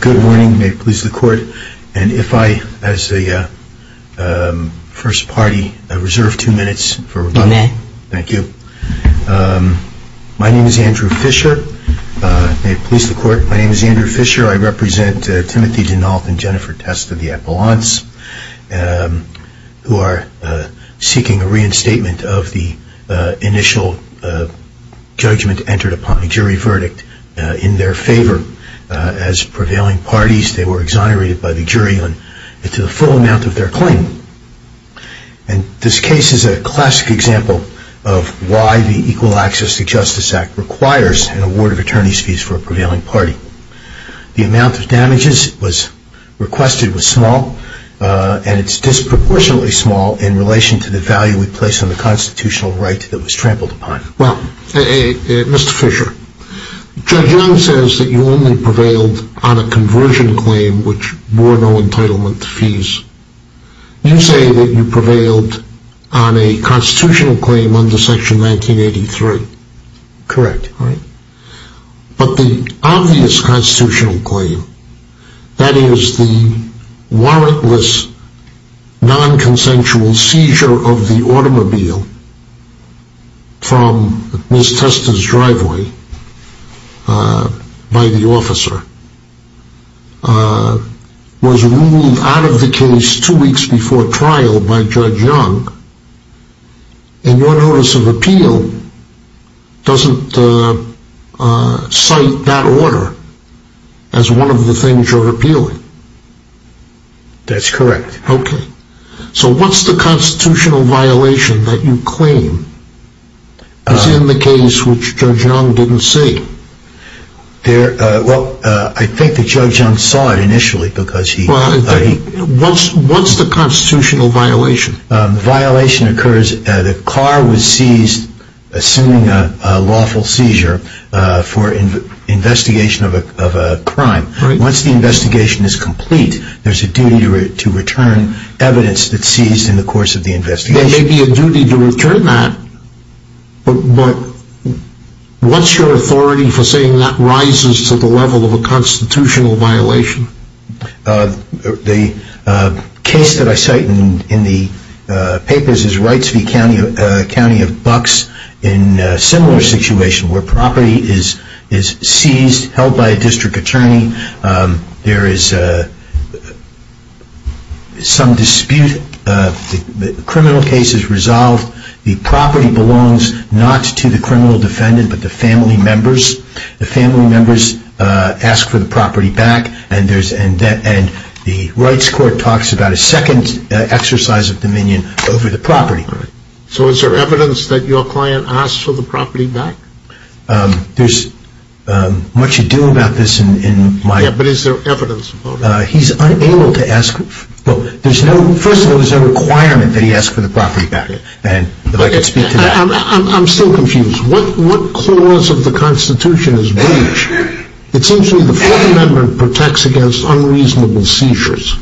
Good morning. May it please the Court, and if I, as the First Party, reserve two minutes for rebuttal. You may. Thank you. My name is Andrew Fisher. May it please the Court, my name is Andrew Fisher. I represent Timothy Denault and Jennifer Testa, the Appellants, who are seeking a reinstatement of the initial judgment entered upon, a jury verdict, in their favor. As prevailing parties, they were exonerated by the jury to the full amount of their claim. And this case is a classic example of why the Equal Access to Justice Act requires an award of attorney's fees for a prevailing party. The amount of damages requested was disproportionately small in relation to the value we place on the constitutional right that was trampled upon. Well, Mr. Fisher, Judge Young says that you only prevailed on a conversion claim which bore no entitlement to fees. You say that you prevailed on a constitutional claim under Section 1983. Correct. But the obvious constitutional claim, that is the warrantless, non-consensual seizure of the automobile from Ms. Testa's driveway by the officer, was ruled out of the case two weeks before trial by Judge Young. And your Notice of Appeal doesn't cite that order as one of the things you're appealing. That's correct. Okay. So what's the constitutional violation that you claim is in the case which Judge Young didn't say? Well, I think that Judge Young saw it initially because he... Well, what's the constitutional violation? The violation occurs, the car was seized, assuming a lawful seizure, for investigation of a crime. Once the investigation is complete, there's a duty to return evidence that's seized in the course of the investigation. There may be a duty to return that, but what's your authority for saying that rises to the level of a constitutional violation? The case that I cite in the papers is Wrightsville County of Bucks in a similar situation where property is seized, held by a district attorney. There is some dispute. The criminal case is resolved. The property belongs not to the criminal defendant, but the family members. The family members ask for the property back, and the Wrights Court talks about a second exercise of dominion over the property. So is there evidence that your client asked for the property back? There's much ado about this in my... Yeah, but is there evidence? He's unable to ask... First of all, there's no requirement that he ask for the property back. I'm still confused. What cause of the Constitution is breach? It seems to me the Fourth Amendment protects against unreasonable seizures.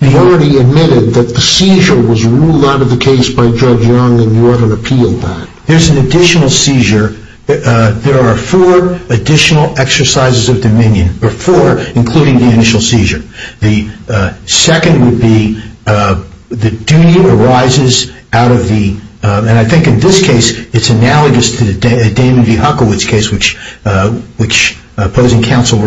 You already admitted that the seizure was ruled out of the case by Judge Young, and you haven't appealed that. There's an additional seizure. There are four additional exercises of dominion, or four, including the initial seizure. The second would be the duty arises out of the... And I think in this case, it's analogous to the Damon v. Huckowitz case, which opposing counsel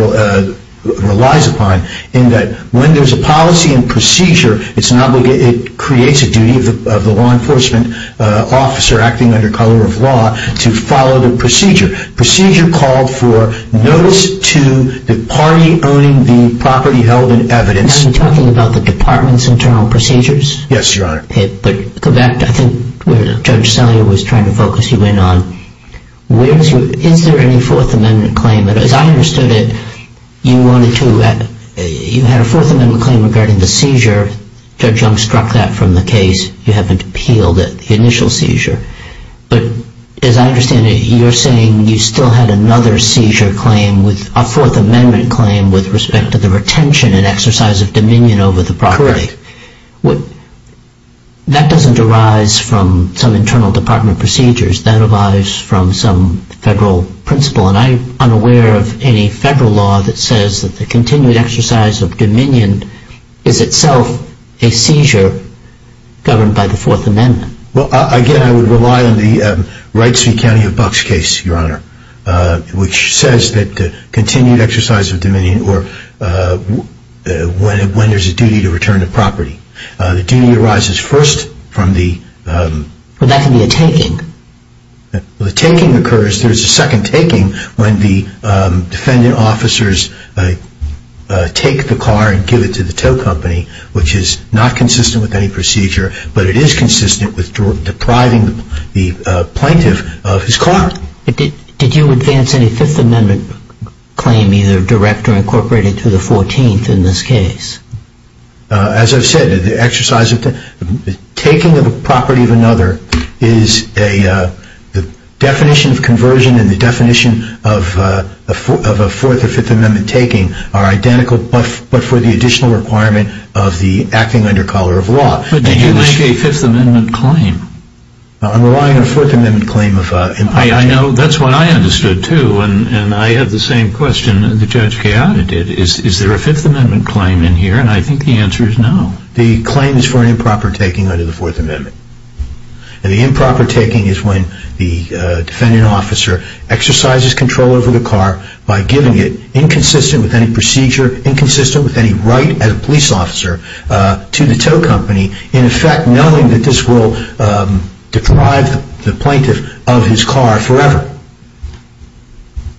relies upon, in that when there's a policy and procedure, it creates a duty of the law enforcement officer acting under color of law to follow the procedure. Procedure called for notice to the party owning the property held in evidence. Are you talking about the department's internal procedures? Yes, Your Honor. But go back to, I think, where Judge Sellier was trying to focus you in on. Is there any Fourth Amendment claim? As I understood it, you had a Fourth Amendment claim regarding the seizure. Judge Young struck that from the case. You haven't appealed it, the initial seizure. But as I understand it, you're saying you still had another seizure claim, a Fourth Amendment claim, with respect to the retention and exercise of dominion over the property. Correct. That doesn't arise from some internal department procedures. That arises from some federal principle. And I'm unaware of any federal law that says that the continued exercise of dominion is itself a seizure governed by the Fourth Amendment. Well, again, I would rely on the Wrightsville County of Bucks case, Your Honor, which says that continued exercise of dominion or when there's a duty to return the property. The duty arises first from the... But that can be a taking. The taking occurs, there's a second taking, when the defendant officers take the car and give it to the tow company, which is not consistent with any procedure, but it is consistent with depriving the plaintiff of his car. Did you advance any Fifth Amendment claim, either direct or incorporated, to the 14th in this case? As I've said, the exercise of... the taking of a property of another is a... the definition of conversion and the definition of a Fourth or Fifth Amendment taking are identical, but for the additional requirement of the acting under collar of law. But did you make a Fifth Amendment claim? I'm relying on a Fourth Amendment claim of... I know that's what I understood, too, and I have the same question that Judge Chiara did. Is there a Fifth Amendment claim in here? And I think the answer is no. The claim is for an improper taking under the Fourth Amendment. And the improper taking is when the defendant officer exercises control over the car by giving it, inconsistent with any procedure, inconsistent with any right as a police officer to the tow company, in effect knowing that this will deprive the plaintiff of his car forever.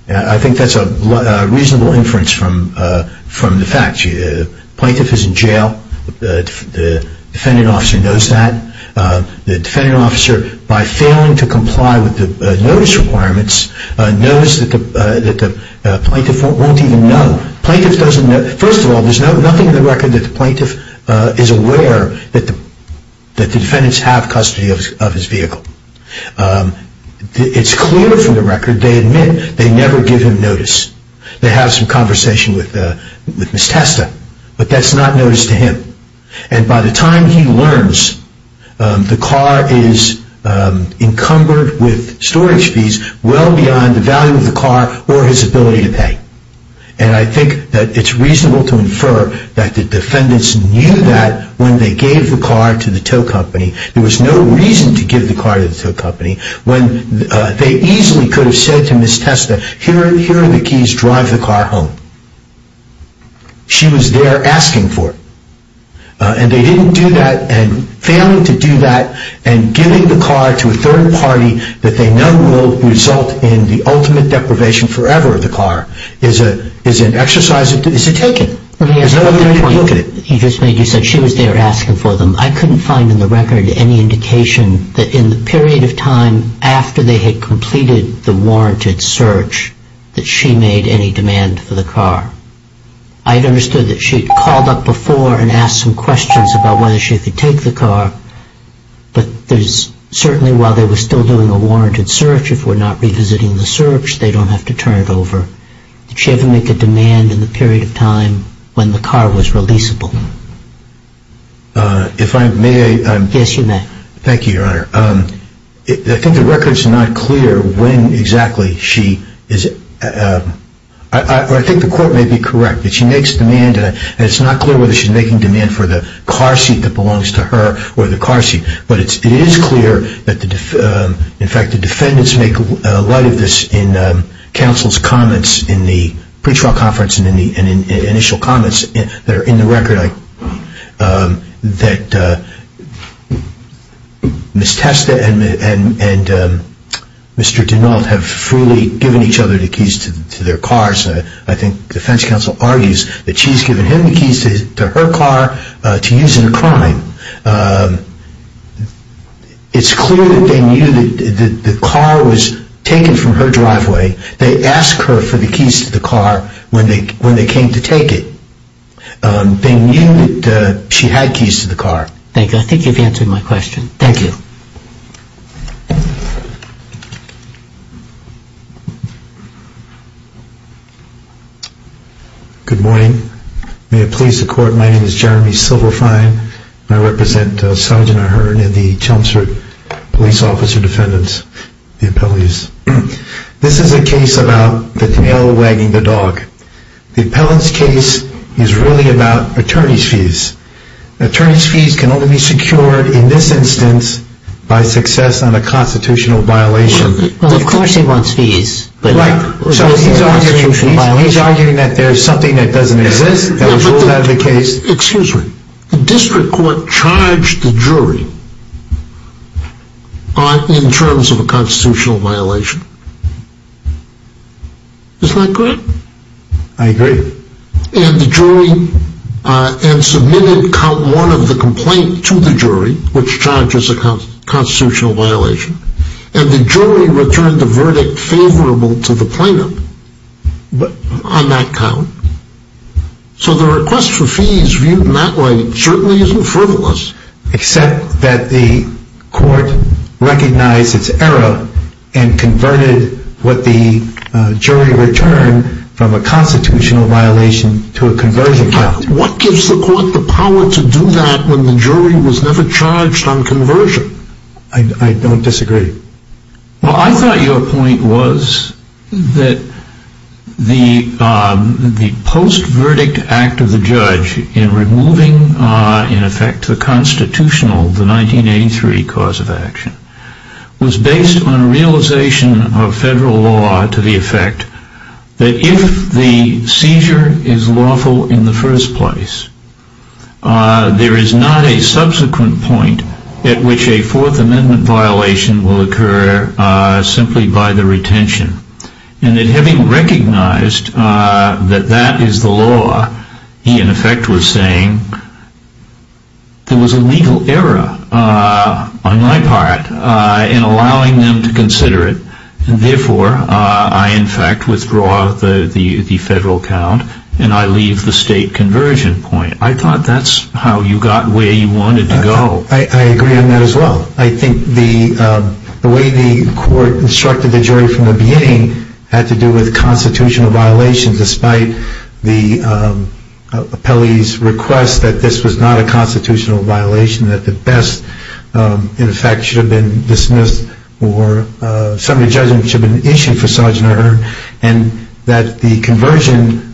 I think that's a reasonable inference from the facts. The plaintiff is in jail. The defendant officer knows that. The defendant officer, by failing to comply with the notice requirements, knows that the plaintiff won't even know. Plaintiff doesn't know. First of all, there's nothing in the record that the plaintiff is aware that the defendants have custody of his vehicle. It's clear from the record they admit they never give him notice. They have some conversation with Ms. Testa, but that's not notice to him. And by the time he learns, the car is encumbered with storage fees well beyond the value of the car or his ability to pay. And I think that it's reasonable to infer that the defendants knew that when they gave the car to the tow company. There was no reason to give the car to the tow company when they easily could have said to Ms. Testa, here are the keys, drive the car home. She was there asking for it. And they didn't do that. And failing to do that and giving the car to a third party that they know will result in the ultimate deprivation forever of the car is an exercise. It's a taking. There's no other way to look at it. You said she was there asking for them. I couldn't find in the record any indication that in the period of time after they had completed the warranted search that she made any demand for the car. I had understood that she had called up before and asked some questions about whether she could take the car. But certainly while they were still doing a warranted search, if we're not revisiting the search, they don't have to turn it over. Did she ever make a demand in the period of time when the car was releasable? If I may. Yes, you may. Thank you, Your Honor. I think the record's not clear when exactly she is. I think the court may be correct that she makes demand and it's not clear whether she's making demand for the car seat that belongs to her or the car seat. But it is clear that in fact the defendants make light of this in counsel's comments in the pre-trial conference and in the initial comments that are in the record. That Ms. Testa and Mr. DeNault have freely given each other the keys to their cars. I think defense counsel argues that she's given him the keys to her car to use in a crime. It's clear that they knew that the car was taken from her driveway. They asked her for the keys to the car when they came to take it. They knew that she had keys to the car. Thank you. I think you've answered my question. Thank you. Good morning. May it please the court, my name is Jeremy Silverfein and I represent Sergeant Ahern and the Chelmsford police officer defendants, the appellees. This is a case about the tail wagging the dog. The appellant's case is really about attorney's fees. Attorney's fees can only be secured in this instance by success on a constitutional violation. Well, of course he wants fees. Right. He's arguing that there's something that doesn't exist that was ruled out of the case. Excuse me. The district court charged the jury in terms of a constitutional violation. Isn't that great? I agree. And the jury, and submitted count one of the complaint to the jury, which charges a constitutional violation, and the jury returned the verdict favorable to the plaintiff on that count. So the request for fees viewed in that way certainly isn't frivolous. Except that the court recognized its error and converted what the jury returned from a constitutional violation to a conversion count. What gives the court the power to do that when the jury was never charged on conversion? I don't disagree. Well, I thought your point was that the post-verdict act of the judge in removing, in effect, the constitutional, the 1983 cause of action, was based on a realization of federal law to the effect that if the seizure is lawful in the first place, there is not a subsequent point at which a Fourth Amendment violation will occur simply by the retention. And that having recognized that that is the law, he in effect was saying, there was a legal error on my part in allowing them to consider it, and therefore I in fact withdraw the federal count and I leave the state conversion point. I thought that's how you got where you wanted to go. I agree on that as well. I think the way the court instructed the jury from the beginning had to do with constitutional violations, despite the appellee's request that this was not a constitutional violation, that the best, in effect, should have been dismissed or a summary judgment should have been issued for Sgt. Earn, and that the conversion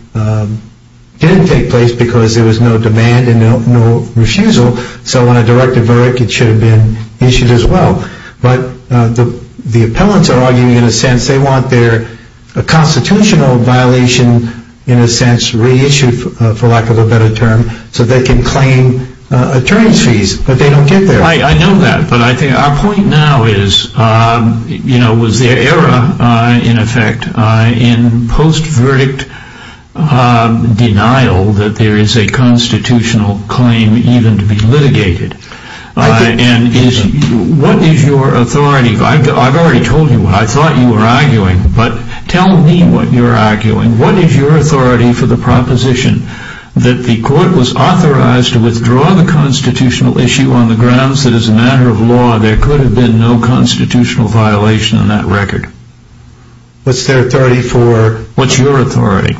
didn't take place because there was no demand and no refusal, so on a directive verdict it should have been issued as well. But the appellants are arguing in a sense they want their constitutional violation, in a sense, reissued, for lack of a better term, so they can claim attorney's fees, but they don't get there. I know that, but I think our point now is, you know, was the error, in effect, in post-verdict denial that there is a constitutional claim even to be litigated. And what is your authority? I've already told you what I thought you were arguing, but tell me what you're arguing. What is your authority for the proposition that the court was authorized to withdraw the constitutional issue on the grounds that, as a matter of law, there could have been no constitutional violation on that record? What's their authority for... What's your authority?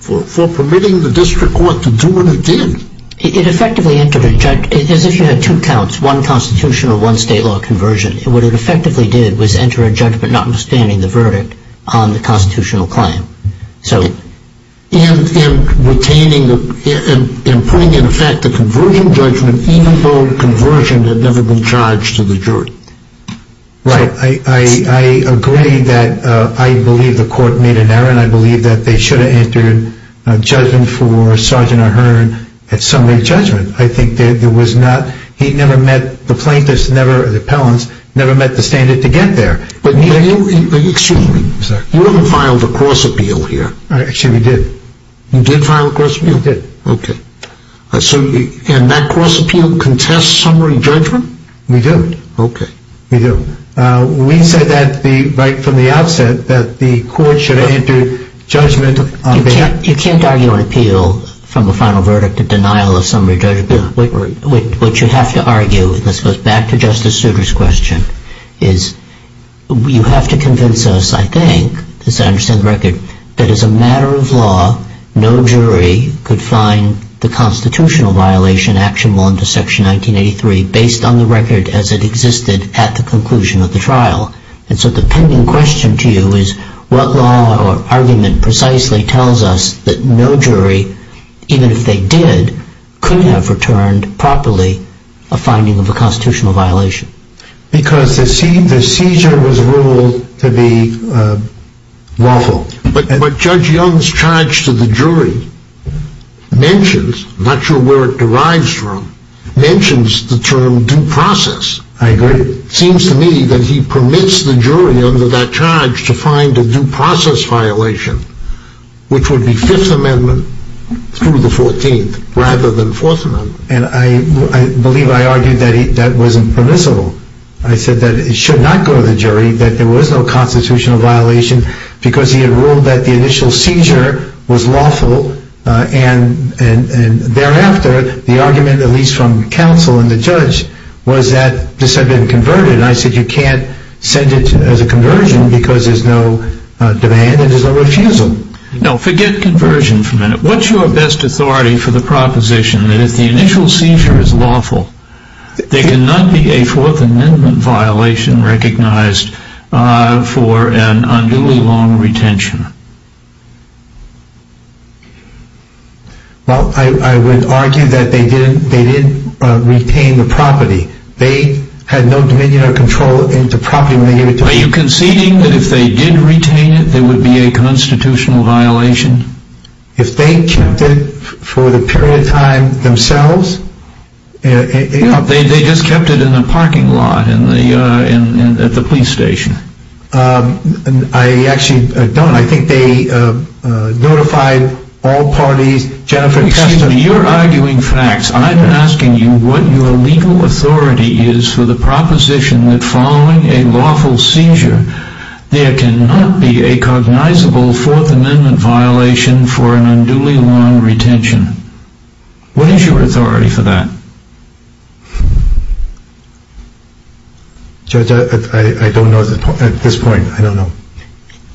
For permitting the district court to do what it did. It effectively entered a judgment... It's as if you had two counts, one constitutional, one state law conversion. What it effectively did was enter a judgment notwithstanding the verdict on the constitutional claim. So... And retaining the... And putting into effect the conversion judgment, even though the conversion had never been charged to the jury. Right. I agree that I believe the court made an error, and I believe that they should have entered a judgment for Sergeant Ahern at summary judgment. I think there was not... He never met... The plaintiffs never... The appellants never met the standard to get there. But you... Excuse me. You haven't filed a cross appeal here. Actually, we did. You did file a cross appeal? We did. Okay. And that cross appeal contests summary judgment? We do. Okay. We do. We said that right from the outset that the court should have entered judgment on behalf... You can't argue an appeal from a final verdict, a denial of summary judgment. What you have to argue, and this goes back to Justice Souter's question, is you have to convince us, I think, as I understand the record, that as a matter of law, no jury could find the constitutional violation actionable under Section 1983 based on the record as it existed at the conclusion of the trial. And so the pending question to you is what law or argument precisely tells us that no jury, even if they did, could have returned properly a finding of a constitutional violation? Because the seizure was ruled to be lawful. But Judge Young's charge to the jury mentions, I'm not sure where it derives from, mentions the term due process. I agree. It seems to me that he permits the jury under that charge to find a due process violation, which would be Fifth Amendment through the 14th rather than Fourth Amendment. And I believe I argued that that wasn't permissible. I said that it should not go to the jury, that there was no constitutional violation, because he had ruled that the initial seizure was lawful. And thereafter, the argument, at least from counsel and the judge, was that this had been converted. And I said you can't send it as a conversion because there's no demand and there's no refusal. No, forget conversion for a minute. What's your best authority for the proposition that if the initial seizure is lawful, there cannot be a Fourth Amendment violation recognized for an unduly long retention? Well, I would argue that they didn't retain the property. They had no dominion or control over the property when they gave it to us. Are you conceding that if they did retain it, there would be a constitutional violation? If they kept it for the period of time themselves? No, they just kept it in the parking lot at the police station. I actually don't. I think they notified all parties. Excuse me, you're arguing facts. I'm asking you what your legal authority is for the proposition that following a lawful seizure, there cannot be a cognizable Fourth Amendment violation for an unduly long retention. What is your authority for that? Judge, I don't know at this point. I don't know.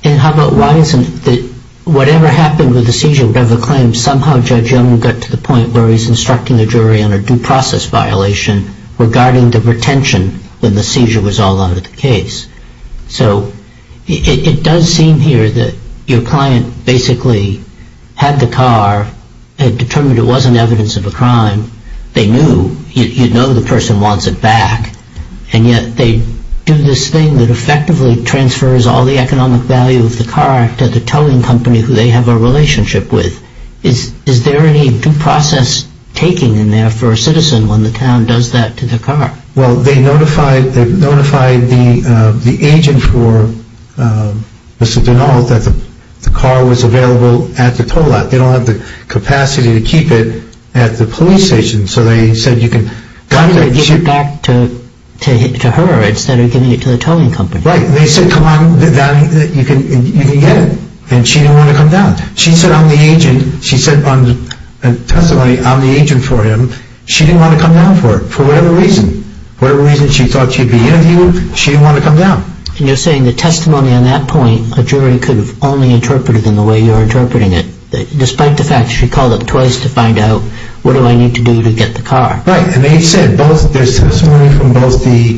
And how about why isn't it that whatever happened with the seizure, whatever claim, somehow Judge Young got to the point where he's instructing the jury on a due process violation regarding the retention when the seizure was all out of the case. So it does seem here that your client basically had the car, had determined it wasn't evidence of a crime. They knew. You know the person wants it back. And yet they do this thing that effectively transfers all the economic value of the car to the towing company who they have a relationship with. Is there any due process taking in there for a citizen when the town does that to the car? Well, they notified the agent for Mr. Donnell that the car was available at the tow lot. They don't have the capacity to keep it at the police station. So they said you can give it back to her instead of giving it to the towing company. Right. They said, come on, you can get it. And she didn't want to come down. She said on the testimony, I'm the agent for him. She didn't want to come down for it for whatever reason. Whatever reason she thought she'd be interviewing, she didn't want to come down. And you're saying the testimony on that point, a jury could have only interpreted it in the way you're interpreting it. Despite the fact she called up twice to find out, what do I need to do to get the car? Right. And they said there's testimony from both the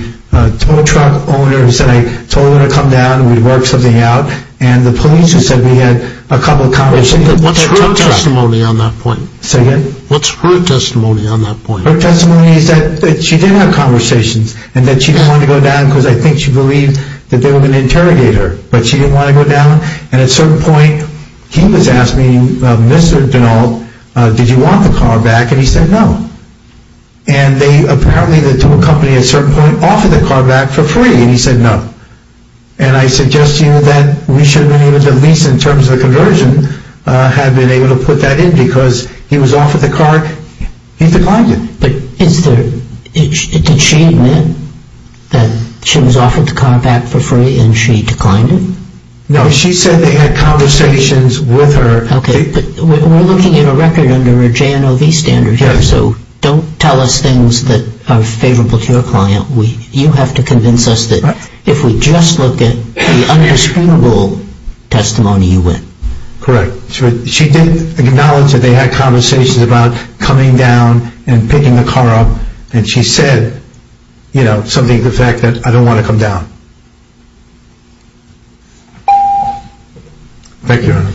tow truck owner who said I told her to come down and we'd work something out. And the police who said we had a couple of conversations. What's her testimony on that point? Say again? What's her testimony on that point? Her testimony is that she did have conversations. And that she didn't want to go down because I think she believed that they were going to interrogate her. But she didn't want to go down. And at a certain point, he was asking Mr. Dunnall, did you want the car back? And he said no. And they apparently, the towing company at a certain point, offered the car back for free. And he said no. And I suggest to you that we should have been able to, at least in terms of the conversion, have been able to put that in because he was offered the car, he declined it. But is there, did she admit that she was offered the car back for free and she declined it? No, she said they had conversations with her. Okay, but we're looking at a record under a JNOV standard here. So don't tell us things that are favorable to your client. You have to convince us that if we just look at the undisputable testimony, you win. Correct. She did acknowledge that they had conversations about coming down and picking the car up. And she said, you know, something to the effect that I don't want to come down. Thank you, Your Honor.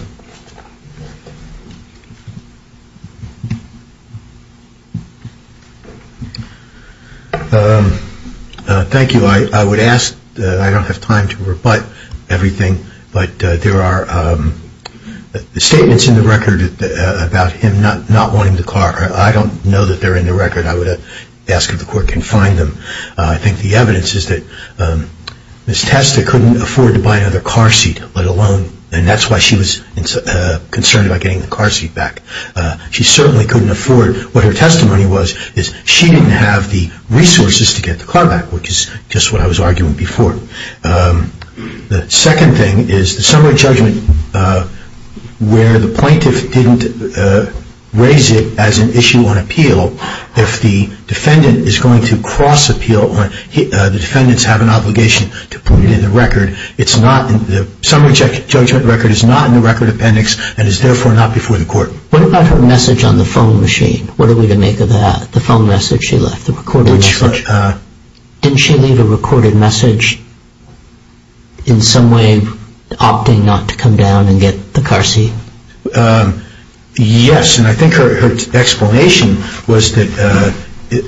Thank you. I would ask, I don't have time to rebut everything, but there are statements in the record about him not wanting the car. I don't know that they're in the record. I would ask if the Court can find them. I think the evidence is that Ms. Testa couldn't afford to buy another car seat, let alone, and that's why she was concerned about getting the car seat back. She certainly couldn't afford. What her testimony was is she didn't have the resources to get the car back, which is just what I was arguing before. The second thing is the summary judgment where the plaintiff didn't raise it as an issue on appeal. If the defendant is going to cross appeal, the defendants have an obligation to put it in the record. It's not in the summary judgment record, it's not in the record appendix, and it's therefore not before the Court. What about her message on the phone machine? What are we to make of that, the phone message she left, the recorded message? Didn't she leave a recorded message in some way opting not to come down and get the car seat? Yes, and I think her explanation was that,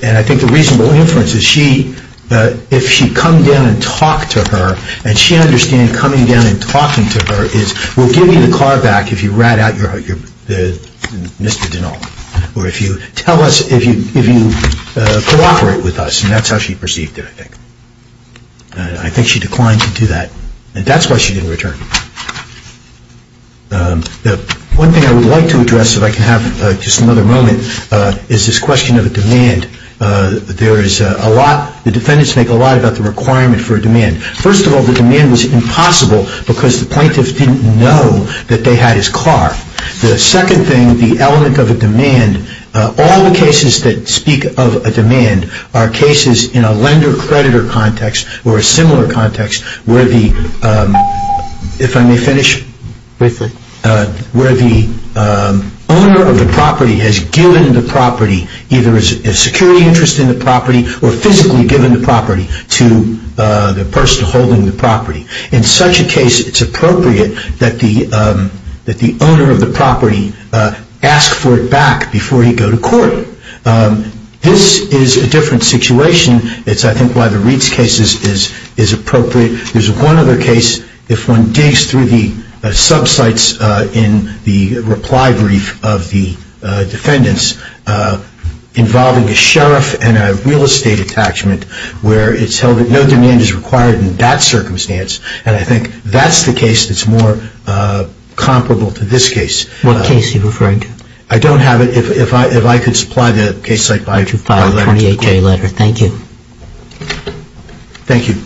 and I think the reasonable inference is she, if she'd come down and talked to her, and she understood coming down and talking to her is, we'll give you the car back if you rat out Mr. Dinnall, or if you cooperate with us, and that's how she perceived it, I think. I think she declined to do that, and that's why she didn't return. One thing I would like to address, if I can have just another moment, is this question of a demand. There is a lot, the defendants make a lot about the requirement for a demand. First of all, the demand was impossible because the plaintiffs didn't know that they had his car. The second thing, the element of a demand, all the cases that speak of a demand are cases in a lender-creditor context or a similar context where the owner of the property has given the property, either a security interest in the property or physically given the property to the person holding the property. In such a case, it's appropriate that the owner of the property ask for it back before he go to court. This is a different situation. It's, I think, why the Reeds case is appropriate. There's one other case, if one digs through the sub-sites in the reply brief of the defendants, involving a sheriff and a real estate attachment where it's held that no demand is required in that circumstance, and I think that's the case that's more comparable to this case. What case are you referring to? I don't have it. If I could supply the case site by letter to the court. By a 28-day letter. Thank you. Thank you.